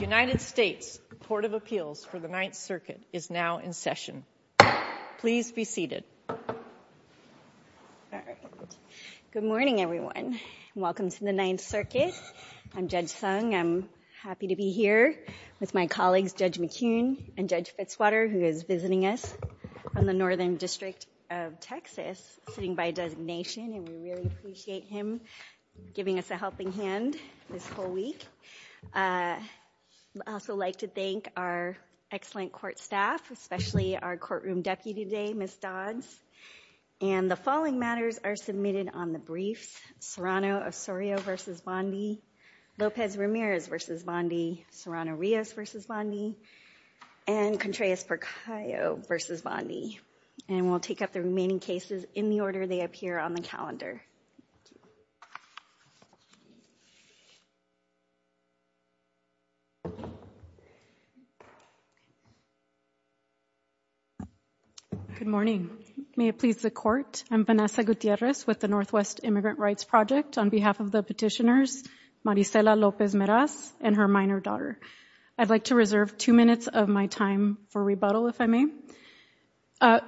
United States Court of Appeals for the Ninth Circuit is now in session. Please be seated. Good morning, everyone. Welcome to the Ninth Circuit. I'm Judge Sung. I'm happy to be here with my colleagues, Judge McCune and Judge Fitzwater, who is visiting us from the Northern District of Texas, sitting by designation, and we really appreciate him giving us a helping hand this whole week. I'd also like to thank our excellent court staff, especially our courtroom deputy today, Ms. Dodds, and the following matters are submitted on the briefs. Serrano Osorio v. Bondi, Lopez Ramirez v. Bondi, Serrano Rios v. Bondi, and Contreras Porcayo v. Bondi, and we'll take up the remaining cases in the order they appear on the calendar. Good morning. May it please the court, I'm Vanessa Gutierrez with the Northwest Immigrant Rights Project. On behalf of the petitioners, Marisela Lopez Meraz and her minor daughter, I'd like to reserve two minutes of my time for rebuttal, if I may.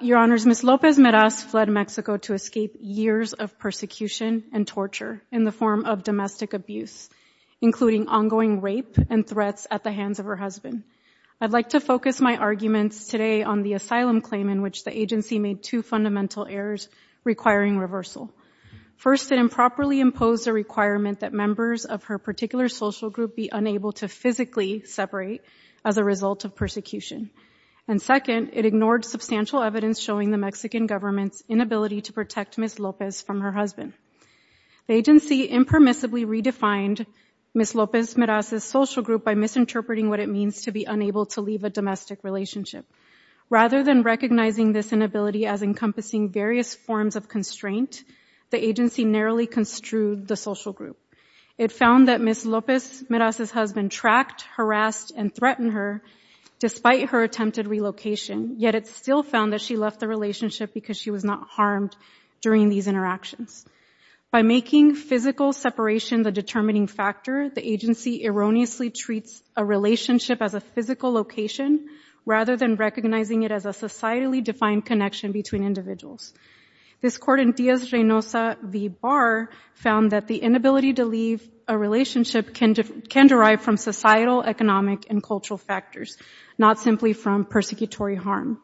Your Honors, Ms. Lopez Meraz fled Mexico to escape years of persecution and torture in the form of domestic abuse, including ongoing rape and threats at the hands of her husband. I'd like to focus my arguments today on the asylum claim in which the agency made two fundamental errors requiring reversal. First, it improperly imposed a requirement that members of her particular social group be unable to physically separate as a result of persecution, and second, it ignored substantial evidence showing the Mexican government's inability to protect Ms. Lopez from her husband. The agency impermissibly redefined Ms. Lopez Meraz's social group by misinterpreting what it means to be unable to leave a domestic relationship. Rather than recognizing this inability as encompassing various forms of constraint, the agency narrowly construed the social group. It found that Ms. Lopez Meraz's husband tracked, harassed, and threatened her despite her attempted relocation, yet it still found that she left the relationship because she was not harmed during these interactions. By making physical separation the determining factor, the agency erroneously treats a relationship as a physical location rather than recognizing it as a societally defined connection between individuals. This court in Díaz-Reynosa v. Barr found that the inability to leave a relationship can derive from societal, economic, and cultural factors, not simply from persecutory harm.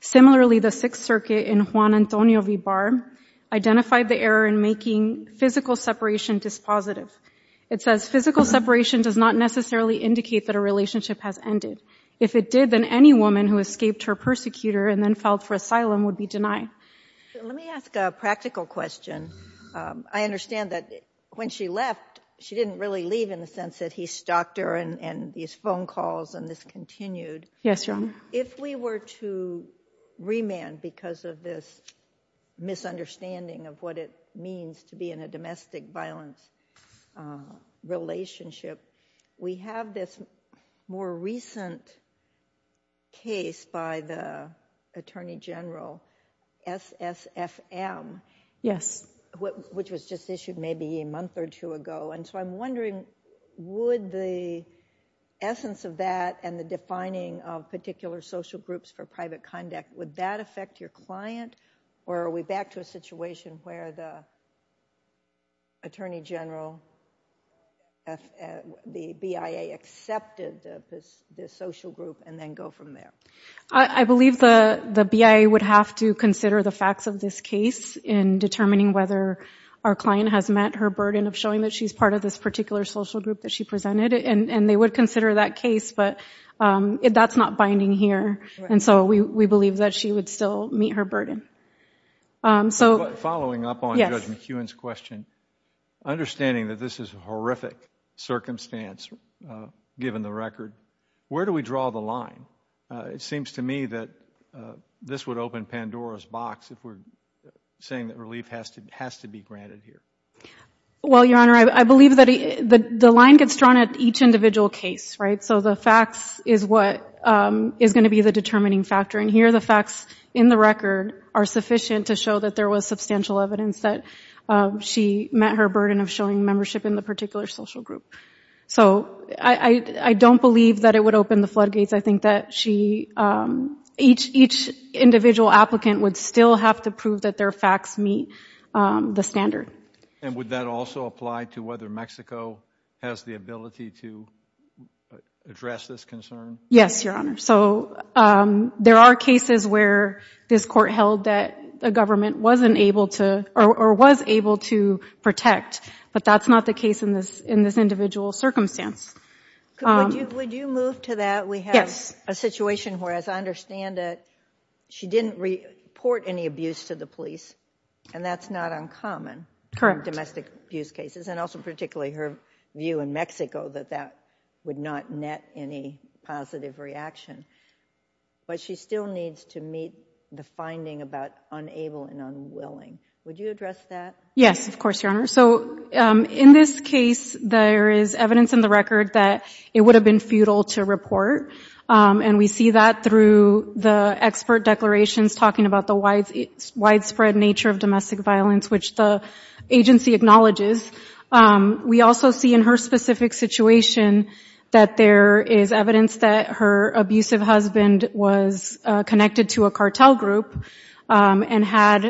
Similarly, the Sixth Circuit in Juan Antonio v. Barr identified the error in making physical separation dispositive. It says, physical separation does not necessarily indicate that a relationship has ended. If it did, then any woman who escaped her persecutor and then filed for asylum would be denied. Let me ask a practical question. I understand that when she left, she didn't really leave in the sense that he stalked her and these phone calls and this continued. Yes, Your Honor. If we were to remand because of this misunderstanding of what it means to be in a domestic violence relationship, we have this more recent case by the Attorney General, SSFM, which was just issued maybe a month or two ago. I'm wondering, would the essence of that and the defining of particular social groups for private conduct, would that affect your client or are we back to a situation where the BIA accepted this social group and then go from there? I believe the BIA would have to consider the facts of this case in determining whether our client has met her burden of showing that she's part of this particular social group that she presented. They would consider that case, but that's not binding here. We believe that she would still meet her burden. Following up on Judge McEwen's question, understanding that this is a horrific circumstance given the record, where do we draw the line? It seems to me that this would open Pandora's box if we're saying that relief has to be granted here. Well, Your Honor, I believe that the line gets drawn at each individual case, right? So the facts is what is going to be the determining factor. And here, the facts in the record are sufficient to show that there was substantial evidence that she met her burden of showing membership in the particular social group. So I don't believe that it would open the floodgates. I think that each individual applicant would still have to prove that their facts meet the standard. And would that also apply to whether Mexico has the ability to address this concern? Yes, Your Honor. So there are cases where this court held that the government wasn't able to, or was able to protect, but that's not the case in this individual circumstance. Would you move to that? We have a situation where, as I understand it, she didn't report any abuse to the police, and that's not uncommon in domestic abuse cases, and also particularly her view in Mexico that that would not net any positive reaction. But she still needs to meet the finding about unable and unwilling. Would you address that? Yes, of course, Your Honor. So in this case, there is evidence in the record that it would have been to report. And we see that through the expert declarations talking about the widespread nature of domestic violence, which the agency acknowledges. We also see in her specific situation that there is evidence that her abusive husband was connected to a cartel group and had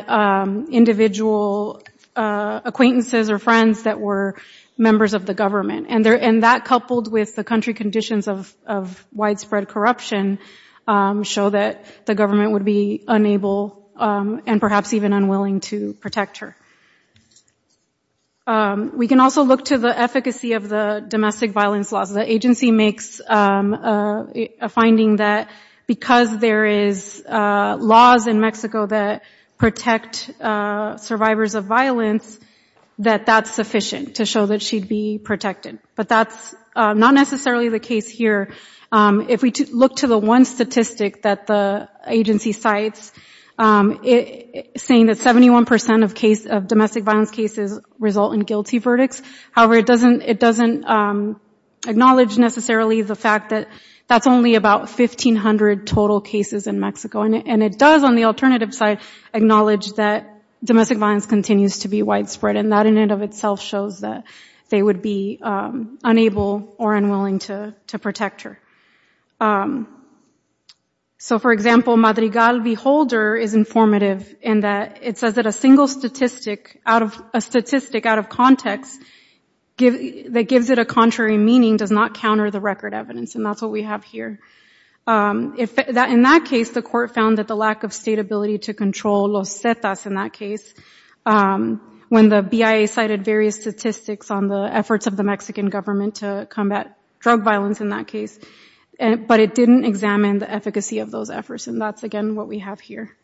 individual acquaintances or friends that were members of the government. And that, coupled with the country conditions of widespread corruption, show that the government would be unable and perhaps even unwilling to protect her. We can also look to the efficacy of the domestic violence laws. The agency makes a finding that because there is laws in Mexico that protect survivors of violence, that that's sufficient to show that she'd be protected. But that's not necessarily the case here. If we look to the one statistic that the agency cites, saying that 71% of domestic violence cases result in guilty verdicts. However, it doesn't acknowledge necessarily the fact that that's only about 1,500 total cases in Mexico. And it does, on the alternative side, acknowledge that domestic violence continues to be widespread. And that in and of itself shows that they would be unable or unwilling to protect her. So for example, Madrigal v. Holder is informative in that it says that a single statistic out of context that gives it a contrary meaning does not counter the record evidence. And that's what we have here. In that case, the court found that the lack of state ability to control Los Cetas in that case, when the BIA cited various statistics on the efforts of the Mexican government to combat drug violence in that case, but it didn't examine the efficacy of those efforts. And that's again what we have here.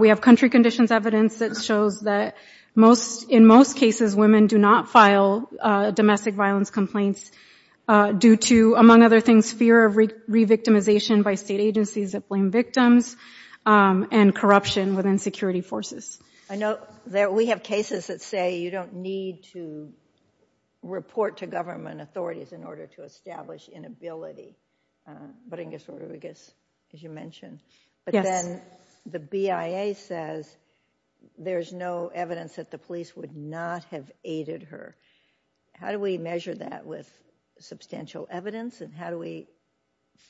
We have country conditions evidence that shows that in most cases women do not file domestic violence complaints due to, among other things, fear of re-victimization by state agencies that blame victims and corruption within security forces. I know that we have cases that say you don't need to report to government authorities in order to establish inability. But I guess as you mentioned, but then the BIA says there's no evidence that police would not have aided her. How do we measure that with substantial evidence and how do we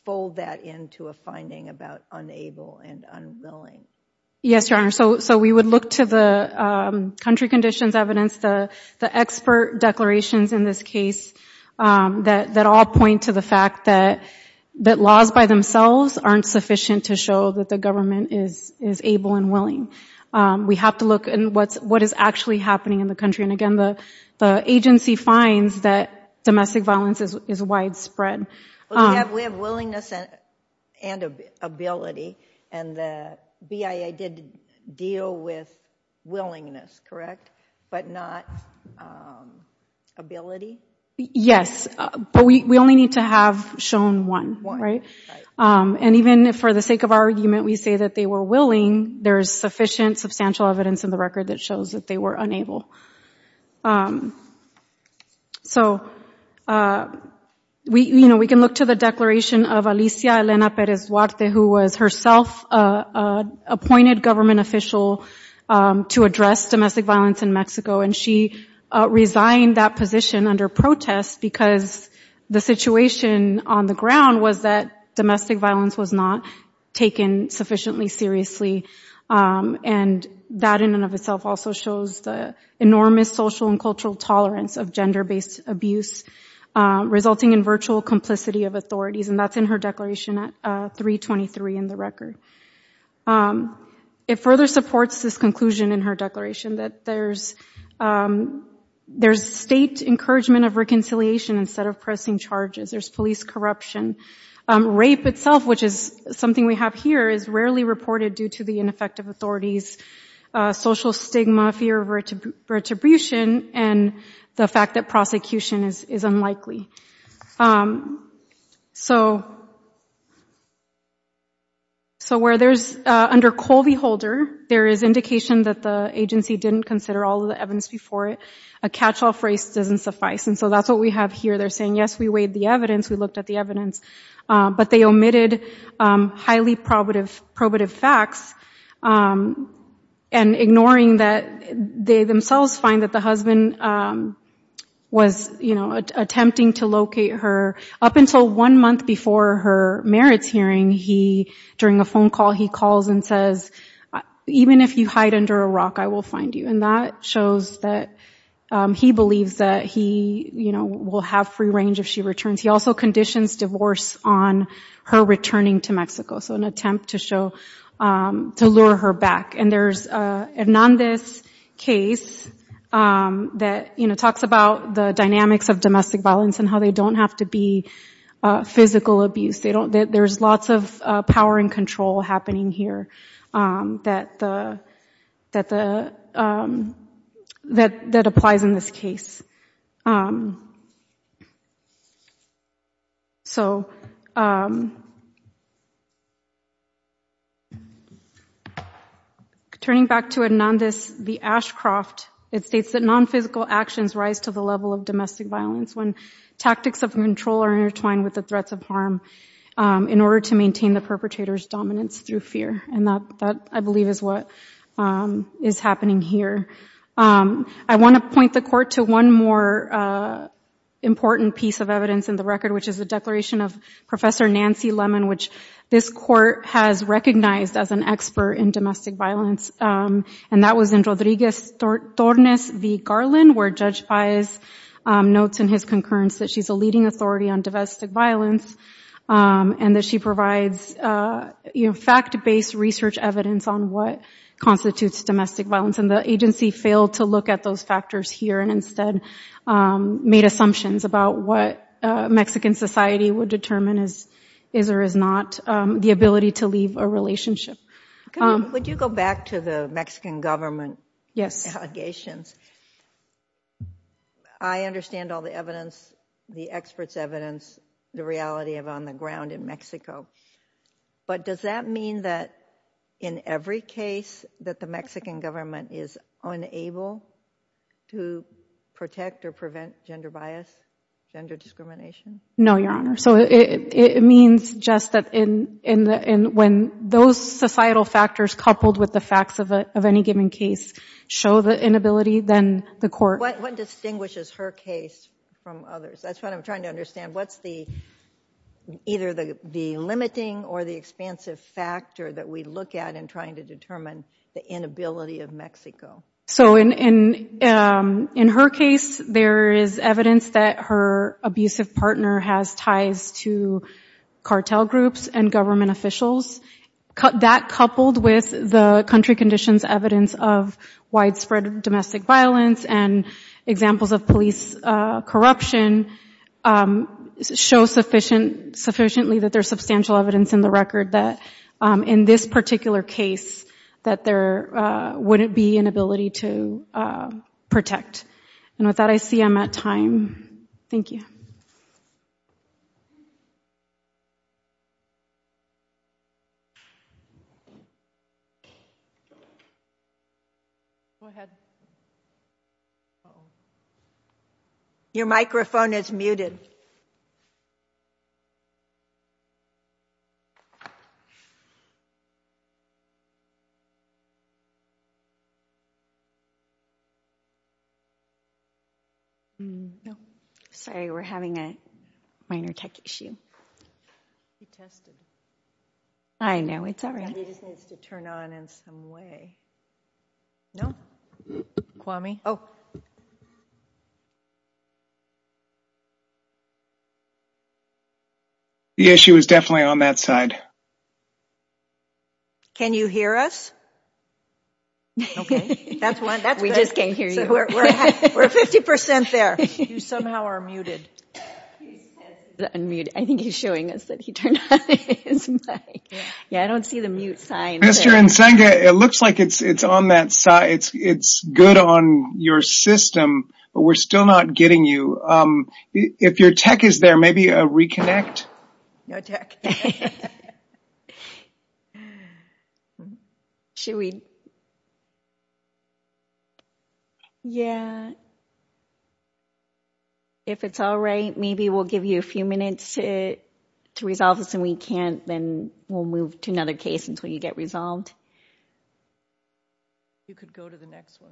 fold that into a finding about unable and unwilling? Yes, Your Honor. So we would look to the country conditions evidence, the expert declarations in this case that all point to the fact that laws by themselves aren't sufficient to show that the happening in the country. And again, the agency finds that domestic violence is widespread. We have willingness and ability, and the BIA did deal with willingness, correct? But not ability? Yes, but we only need to have shown one, right? And even for the sake of argument, we say that they were willing, there's sufficient substantial evidence in the record that shows that they were unable. So we, you know, we can look to the declaration of Alicia Elena Perez Duarte, who was herself appointed government official to address domestic violence in Mexico, and she resigned that position under protest because the situation on the ground was that domestic violence was not taken sufficiently seriously. And that in and of itself also shows the enormous social and cultural tolerance of gender-based abuse, resulting in virtual complicity of authorities, and that's in her declaration at 323 in the record. It further supports this conclusion in her declaration that there's state encouragement of reconciliation instead of pressing charges. There's police corruption. Rape itself, which is something we have here, is rarely reported due to the ineffective authorities, social stigma, fear of retribution, and the fact that prosecution is unlikely. So where there's, under Colby Holder, there is indication that the agency didn't consider all the evidence before it, a catch-all phrase doesn't suffice. And so that's what we have here. They're saying, yes, we weighed the evidence, we looked at the evidence, but they omitted highly probative facts, and ignoring that they themselves find that the husband was, you know, attempting to locate her. Up until one month before her merits hearing, he, during a phone call, he calls and says, even if you hide under a rock, I will find you. And that shows that he believes that he, you know, will have free range if she returns. He also conditions divorce on her returning to Mexico, so an attempt to show, to lure her back. And there's a Hernandez case that, you know, talks about the dynamics of domestic violence and how they don't have to be physical abuse. They don't, there's lots of power and control happening here that applies in this case. Turning back to Hernandez v. Ashcroft, it states that non-physical actions rise to the level of when tactics of control are intertwined with the threats of harm in order to maintain the perpetrator's dominance through fear. And that, I believe, is what is happening here. I want to point the court to one more important piece of evidence in the record, which is the declaration of Professor Nancy Lemon, which this court has recognized as an expert in domestic violence. She's a leading authority on domestic violence and that she provides, you know, fact-based research evidence on what constitutes domestic violence. And the agency failed to look at those factors here and instead made assumptions about what Mexican society would determine is, is or is not, the ability to leave a relationship. Would you go back to the Mexican government allegations? I understand all the evidence, the experts' evidence, the reality of on the ground in Mexico, but does that mean that in every case that the Mexican government is unable to protect or prevent gender bias, gender discrimination? No, Your Honor. So it, it means just that in, in the, in when those societal factors coupled with the facts of a, of any given case show the inability of the Mexican government to protect or prevent gender discrimination, then the court... What, what distinguishes her case from others? That's what I'm trying to understand. What's the, either the limiting or the expansive factor that we look at in trying to determine the inability of Mexico? So in, in, in her case, there is evidence that her abusive partner has ties to cartel groups and government officials. That coupled with the country conditions evidence of widespread domestic violence and examples of police corruption show sufficient, sufficiently that there's substantial evidence in the record that in this particular case, that there wouldn't be an ability to protect. And with that, I see I'm at time. Thank you. Go ahead. Your microphone is muted. No, sorry. We're having a minor tech issue. We tested. I know, it's all right. It just needs to turn on in some way. No, Kwame. Oh. The issue is definitely on that side. Can you hear us? Okay, that's one. We just can't hear you. We're 50% there. You somehow are muted. I think he's showing us that he turned on his mic. Yeah, I don't see the mute sign. It looks like it's on that side. It's good on your system, but we're still not getting you. If your tech is there, maybe a reconnect. No tech. Should we? Yeah. If it's all right, maybe we'll give you a few minutes to resolve this. Then we'll move to another case until you get resolved. You could go to the next one.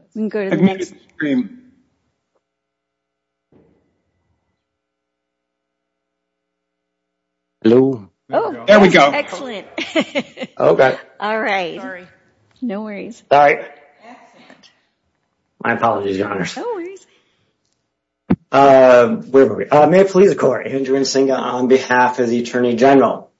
There we go. Excellent. Okay. All right. No worries. All right. Excellent. My apologies, your honors. No worries. Where were we? May it please the court. Andrew Nzinga on behalf of the attorney general.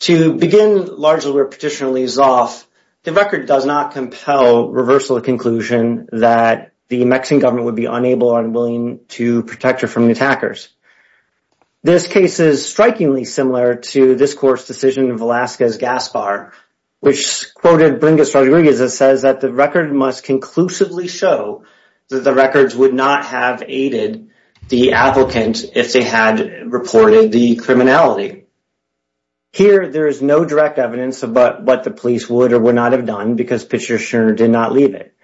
To begin largely where petitioner leaves off, the record does not compel reversal of conclusion that the Mexican government would be unable or unwilling to protect her from the attackers. This case is strikingly similar to this court's decision of Velasquez Gaspar, which quoted Bringis Rodriguez that says that the record must conclusively show that the records would not have aided the applicant if they had reported the criminality. Here, there is no direct evidence about what the police would or would not have done because petitioner did not leave it.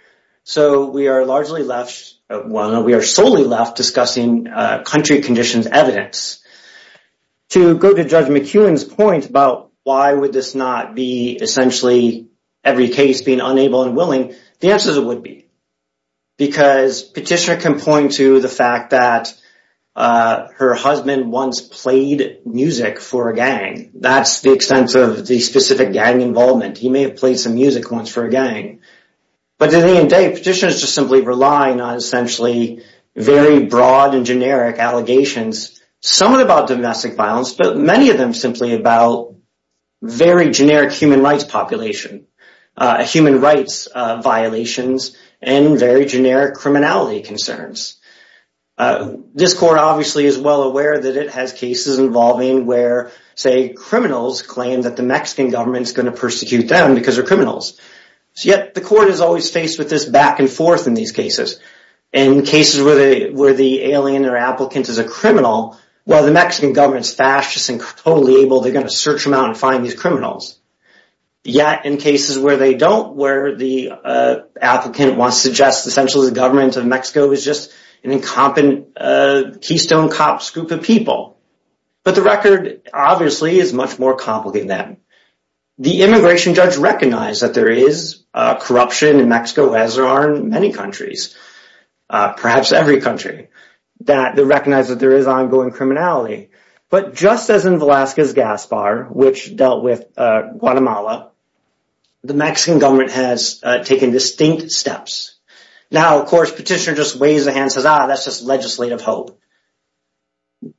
So we are largely left, well, no, we are solely left discussing country conditions evidence. To go to Judge McEwen's point about why would this not be essentially every case being unable and willing, the answer is it would be. Because petitioner can point to the fact that her husband once played music for a gang. That's the extent of the specific gang involvement. He may have played some music once for a gang. But at the end of the day, petitioners just simply rely on essentially very broad and generic allegations, some of them about domestic violence, but many of them simply about very generic human rights population, human rights violations, and very generic criminality concerns. This court obviously is well aware that it has cases involving where, say, criminals claim that the Mexican government is going to persecute them because they're criminals. So yet the court is always faced with this back and forth in these cases. In cases where the alien or applicant is a criminal, well, the Mexican government is fascist and totally able, they're going to search them out and find these criminals. Yet in cases where they don't, where the applicant wants to suggest essentially the government of Mexico is just an incompetent, keystone cops group of people. But the record obviously is much more complicated than that. The immigration judge recognized that there is corruption in Mexico, as there are in many countries, perhaps every country, that they recognize that there is ongoing criminality. But just as in Velasquez Gaspar, which dealt with Guatemala, the Mexican government has taken distinct steps. Now, of course, petitioner just waves the hand and says, ah, that's just legislative hope.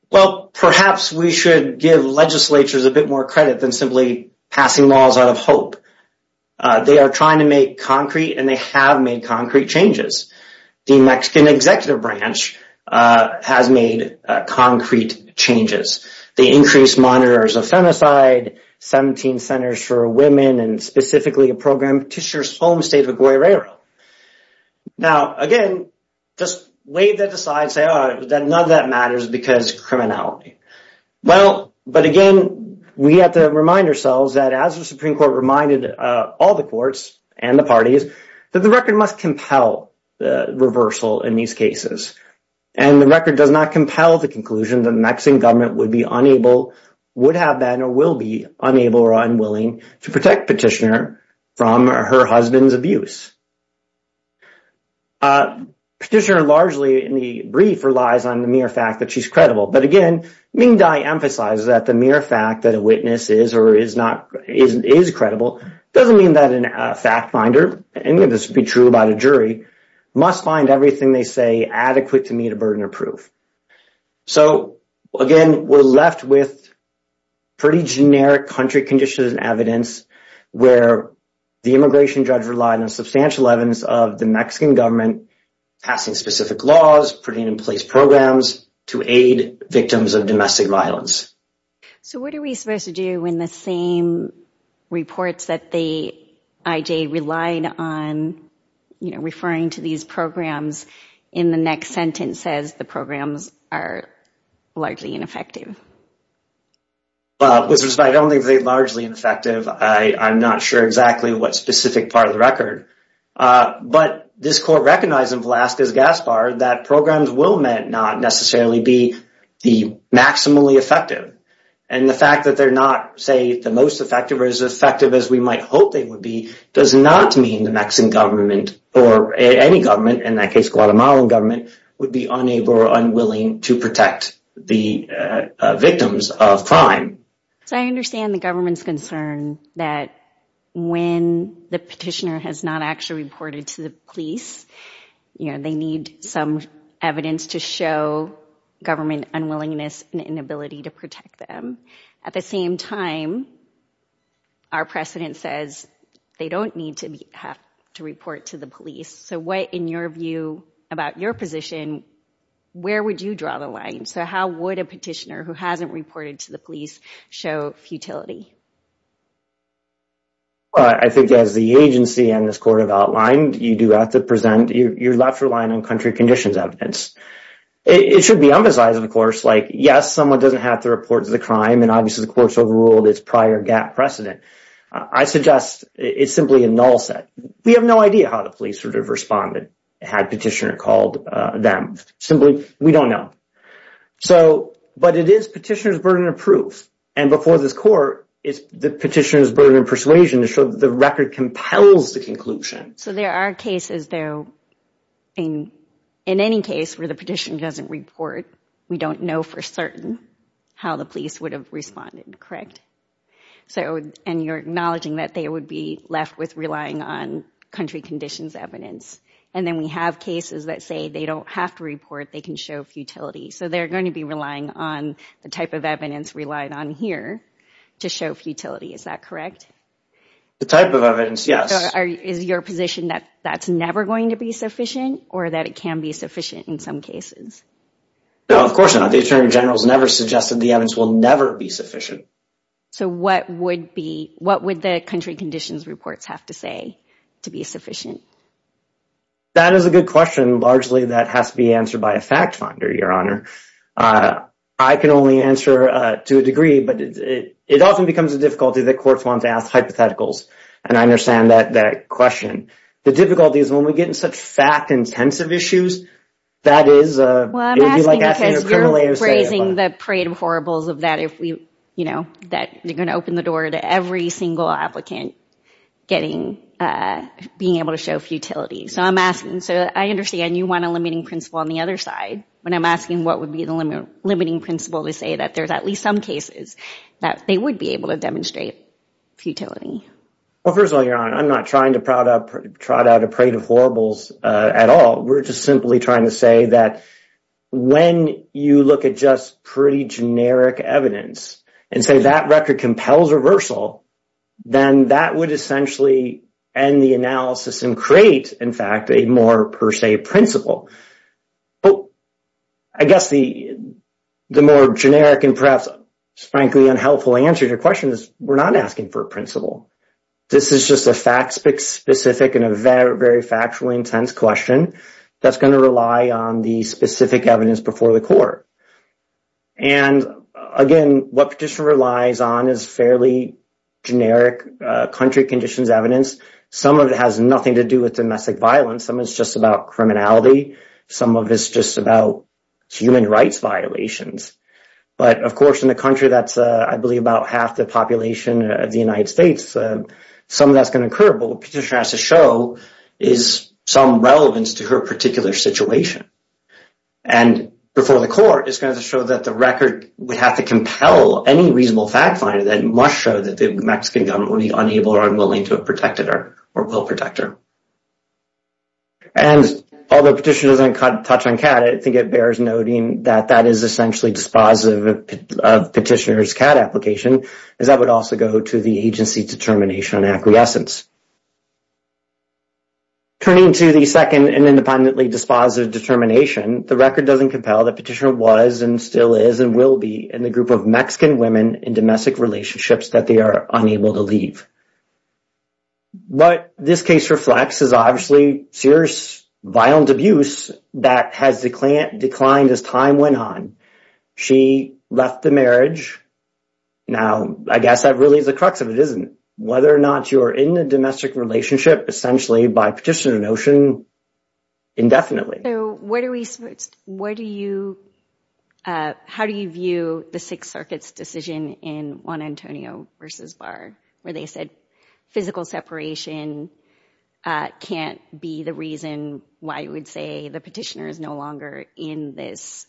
Well, perhaps we should give legislatures a bit more credit than simply passing laws out of hope. They are trying to make concrete and they have made concrete changes. The Mexican executive branch has made concrete changes. They increased monitors of femicide, 17 centers for women, and specifically a program to assure home state of Guerrero. Now, again, just wave that aside and say, oh, none of that matters because criminality. Well, but again, we have to remind ourselves that as the Supreme Court reminded all the courts and the parties that the record must compel reversal in these cases. And the record does not compel the conclusion that Mexican government would be unable, would have been, or will be unable or unwilling to protect petitioner from her husband's abuse. Petitioner largely in the brief relies on the mere fact that she's credible. But again, Ming Dai emphasizes that the mere fact that a witness is or is not, is credible doesn't mean that a fact finder, any of this would be true about a jury, must find everything they say adequate to meet a burden of proof. So again, we're left with pretty generic country conditions and evidence where the immigration judge relied on substantial evidence of the Mexican government passing specific laws, putting in place programs to aid victims of domestic violence. So what are we supposed to do when the same reports that the IJ relied on, you know, referring to these programs in the next sentence says the programs are largely ineffective? Well, with respect, I don't think they're largely ineffective. I'm not sure exactly what specific part of the record. But this court recognized in Velazquez-Gaspar that programs will not necessarily be the maximally effective. And the fact that they're not, say, the most effective or as effective as we might hope they would be, does not mean the Mexican government or any government, in that case, Guatemalan government, would be unable or unwilling to protect the victims of crime. So I understand the government's concern that when the petitioner has not actually reported to the police, you know, they need some evidence to show government unwillingness and inability to protect them. At the same time, our precedent says they don't need to have to report to the police. So what, in your view, about your position, where would you draw the line? So how would a petitioner who hasn't reported to the police show futility? Well, I think as the agency and this court have outlined, you do have to present your left relying on country conditions evidence. It should be emphasized, of course, like, yes, someone doesn't have to report to the crime, and obviously the court's overruled its prior gap precedent. I suggest it's simply a null set. We have no idea how the police would have responded had petitioner called them. Simply, we don't know. So, but it is petitioner's burden of proof. And before this court, it's the petitioner's burden of persuasion to show that the record compels the conclusion. So there are cases, though, in any case where the petitioner doesn't report, we don't know for certain how the police would have responded, correct? So, and you're acknowledging that they would be left with relying on country conditions evidence. And then we have cases that say they don't have to report, they can show futility. So they're going to be relying on the type of evidence relied on here to show futility. Is that correct? The type of evidence, yes. Is your position that that's never going to be sufficient or that it can be sufficient in some cases? No, of course not. The attorney general's never suggested the evidence will never be sufficient. So what would be, what would the country conditions reports have to say to be sufficient? That is a good question. Largely, that has to be answered by a fact your honor. I can only answer to a degree, but it often becomes a difficulty that courts want to ask hypotheticals. And I understand that question. The difficulty is when we get in such fact intensive issues, that is a criminal case. Well, I'm asking because you're raising the parade of horribles of that if we, you know, that you're going to open the door to every single applicant getting, being able to show futility. So I'm asking, so I understand you want a limiting principle on the other side, when I'm asking what would be the limiting principle to say that there's at least some cases that they would be able to demonstrate futility. Well, first of all, your honor, I'm not trying to prod up, trot out a parade of horribles at all. We're just simply trying to say that when you look at just pretty generic evidence and say that record compels reversal, then that would essentially end the analysis and create, in fact, a more per se principle. But I guess the more generic and perhaps frankly unhelpful answer to your question is we're not asking for a principle. This is just a fact specific and a very, very factually intense question that's going to rely on the specific evidence before the court. And again, what petition relies on is fairly generic country conditions evidence. Some of it has nothing to do with domestic violence. Some is just about criminality. Some of it's just about human rights violations. But of course, in the country that's, I believe, about half the population of the United States, some of that's going to occur. But what the petition has to show is some relevance to her particular situation. And before the court, it's going to show that the record would have to compel any reasonable fact finder that must show that the Mexican government would be unable or unwilling to have protected her or will protect her. And although petition doesn't touch on CAD, I think it bears noting that that is essentially dispositive of petitioner's CAD application, as that would also go to the agency determination on acquiescence. Turning to the second and independently dispositive determination, the record doesn't compel that petitioner was and still is and will be in the group of Mexican women in domestic relationships that they are unable to leave. What this case reflects is obviously serious violent abuse that has declined as time went on. She left the marriage. Now, I guess that really is the crux of it, isn't it? Whether or not you're in the domestic relationship, essentially by petitioner notion, indefinitely. So what do we, what do you, how do you view the Sixth Circuit's decision in Juan Antonio versus Barr, where they said physical separation can't be the reason why you would say the petitioner is no longer in this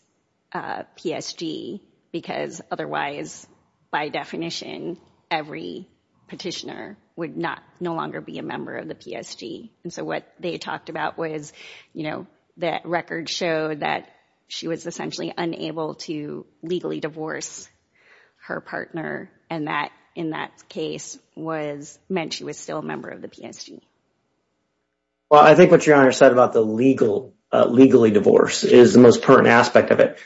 PSG, because otherwise, by definition, every petitioner would not no longer be a member of PSG. And so what they talked about was, you know, that record showed that she was essentially unable to legally divorce her partner. And that, in that case, was meant she was still a member of the PSG. Well, I think what your Honor said about the legal, legally divorce is the most pertinent aspect of it.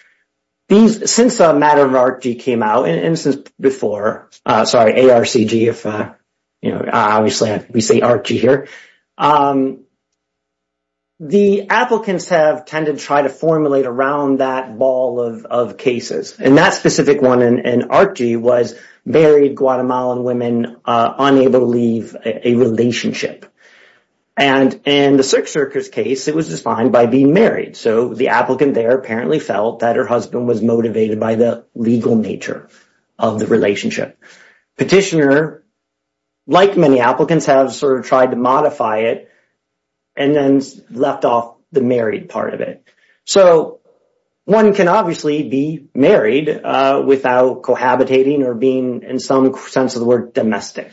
These, since the matter of ARCG came out, and since before, sorry, ARCG, if, you know, obviously we say ARCG here, the applicants have tended to try to formulate around that ball of cases. And that specific one in ARCG was married Guatemalan women unable to leave a relationship. And in the Sixth Circuit's case, it was defined by being married. So the applicant there apparently felt that her husband was motivated by the legal nature of the relationship. Petitioner, like many applicants, have sort of tried to modify it and then left off the married part of it. So one can obviously be married without cohabitating or being, in some sense of the word, domestic.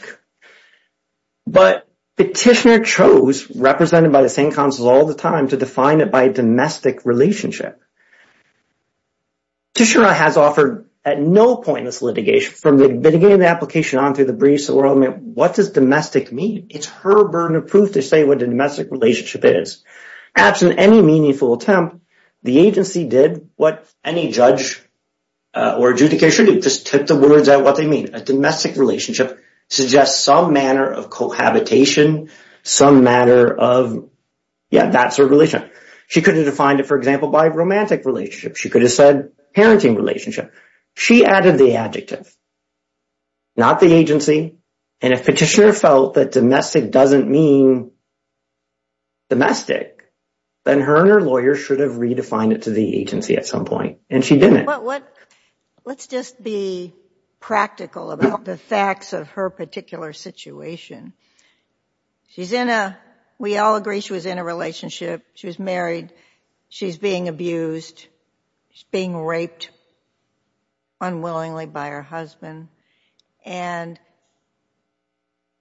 But petitioner chose, represented by the same counsel all the time, to define it by domestic relationship. Petitioner has offered at no point in this litigation, from the beginning of the application on through the briefs, what does domestic mean? It's her burden of proof to say what a domestic relationship is. Absent any meaningful attempt, the agency did what any judge or adjudication did, just took the words out what they mean. A domestic relationship suggests some manner of cohabitation, some matter of, yeah, that sort of relation. She could have defined it, for example, by romantic relationship. She could have said parenting relationship. She added the adjective, not the agency. And if petitioner felt that domestic doesn't mean domestic, then her and her lawyer should have redefined it to the agency at some point, and she didn't. Let's just be practical about the facts of her particular situation. She's in a, we all agree she was in a relationship. She was married. She's being abused. She's being raped unwillingly by her husband. And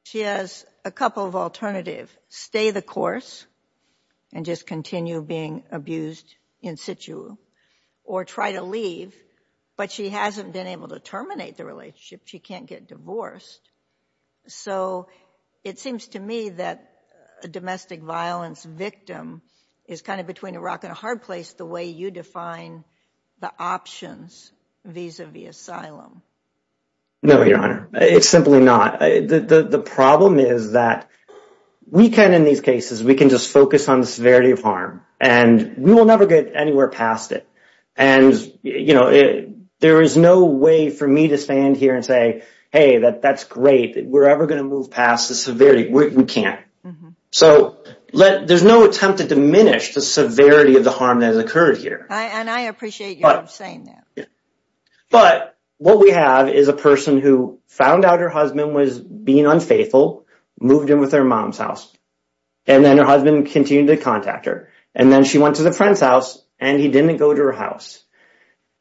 she has a couple of alternatives. Stay the course and just continue being abused in situ, or try to leave, but she hasn't been able to terminate the relationship. It seems to me that a domestic violence victim is kind of between a rock and a hard place the way you define the options vis-a-vis asylum. No, Your Honor. It's simply not. The problem is that we can, in these cases, we can just focus on the severity of harm, and we will never get anywhere past it. And there is no way for me to stand here and say, hey, that's great. We're ever going to move past the severity. We can't. So there's no attempt to diminish the severity of the harm that has occurred here. And I appreciate you saying that. But what we have is a person who found out her husband was being unfaithful, moved in with her mom's house, and then her husband continued to contact her. And then she went to the friend's and he didn't go to her house.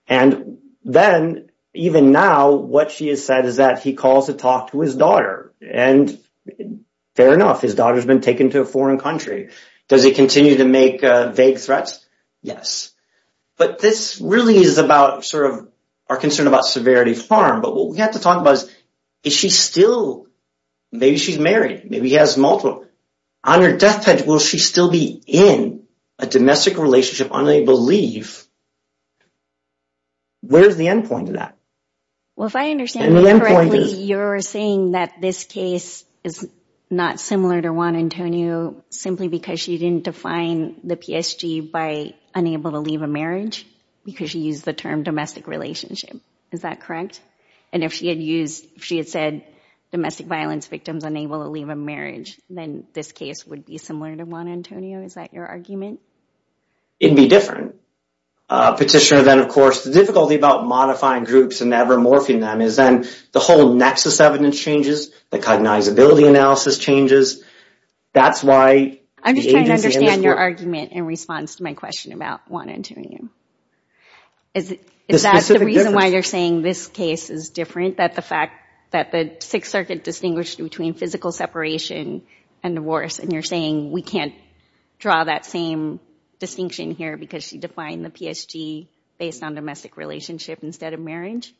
And then, even now, what she has said is that he calls to talk to his daughter. And fair enough, his daughter's been taken to a foreign country. Does he continue to make vague threats? Yes. But this really is about sort of our concern about severity of harm. But what we have to talk about is, is she still, maybe she's married, maybe he has multiple. On her deathbed, will she still be in a domestic relationship, unable to leave? Where's the end point of that? Well, if I understand you correctly, you're saying that this case is not similar to Juan Antonio simply because she didn't define the PSG by unable to leave a marriage because she used the term domestic relationship. Is that correct? And if she had said domestic violence victims unable to leave a marriage, then this case would be similar to Juan Antonio. Is that your argument? It'd be different. Petitioner, then, of course, the difficulty about modifying groups and never morphing them is then the whole nexus evidence changes, the cognizability analysis changes. That's why the agency- I'm just trying to understand your argument in response to my about Juan Antonio. Is that the reason why you're saying this case is different, that the fact that the Sixth Circuit distinguished between physical separation and divorce, and you're saying we can't draw that same distinction here because she defined the PSG based on domestic relationship instead of marriage?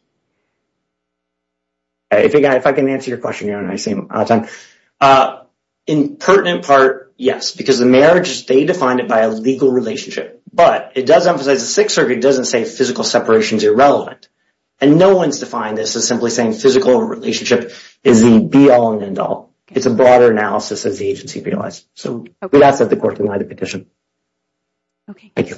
If I can answer your question, I seem out of time. In pertinent part, yes, because the marriage, they defined it by a legal relationship, but it does emphasize the Sixth Circuit doesn't say physical separation is irrelevant, and no one's defined this as simply saying physical relationship is the be-all and end-all. It's a broader analysis as the agency realized. So we'd ask that the court deny the petition. Okay. Thank you.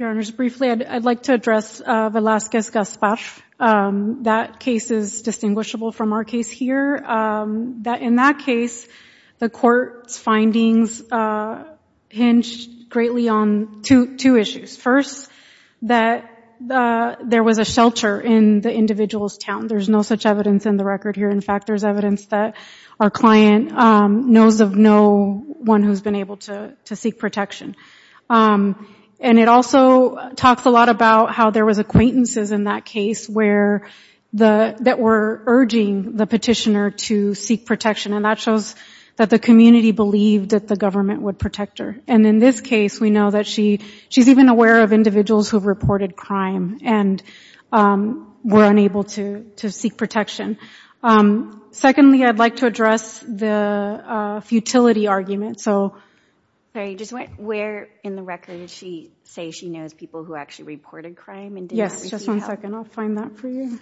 Your Honors, briefly, I'd like to address Velazquez-Gaspar. That case is distinguishable from our case here. In that case, the court's findings hinged greatly on two issues. First, that there was a shelter in the individual's town. There's no such evidence in the record here. In fact, there's evidence that our client knows of no one who's been able to seek protection. And it also talks a lot about how there was acquaintances in that case that were urging the petitioner to seek protection, and that shows that the community believed that the government would protect her. And in this case, we know that she's even aware of individuals who've reported crime and were unable to seek protection. Secondly, I'd like to address the futility argument. Sorry, just where in the record does she say she knows people who actually reported crime and didn't seek help? Yes, just one second. I'll find that for you.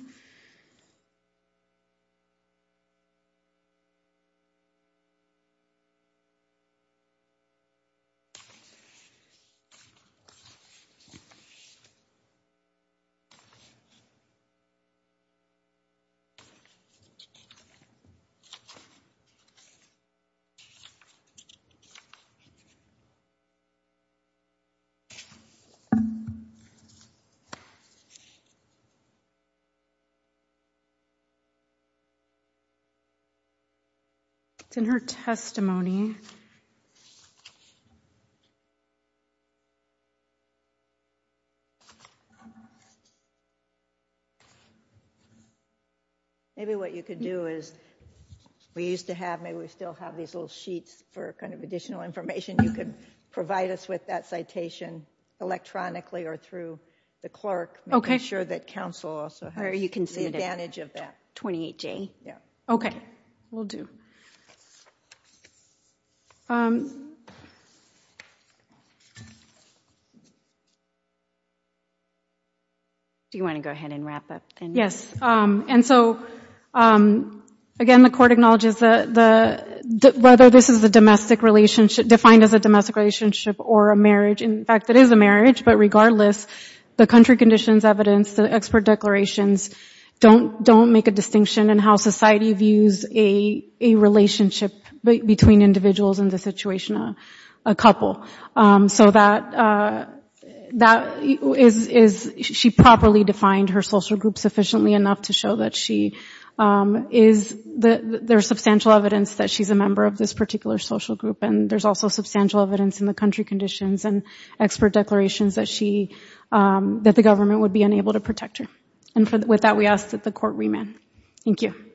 It's in her testimony. Maybe what you could do is we used to have, maybe we still have these little sheets for kind of additional information. You could provide us with that citation electronically or through the clerk, making sure that counsel also has the advantage of that. Okay, will do. Do you want to go ahead and wrap up? Yes. And so, again, the court acknowledges that whether this is a domestic relationship, defined as a domestic relationship or a marriage, in fact, it is a marriage, but regardless, the country conditions, evidence, the expert declarations don't make a distinction in how society views a relationship between individuals and the situation of a couple. So that is, she properly defined her social group sufficiently enough to show that there is substantial evidence that she's a member of this particular social group. And there's also substantial evidence in the country conditions and expert declarations that the government would be unable to protect her. And with that, we ask that the court remand. Thank you.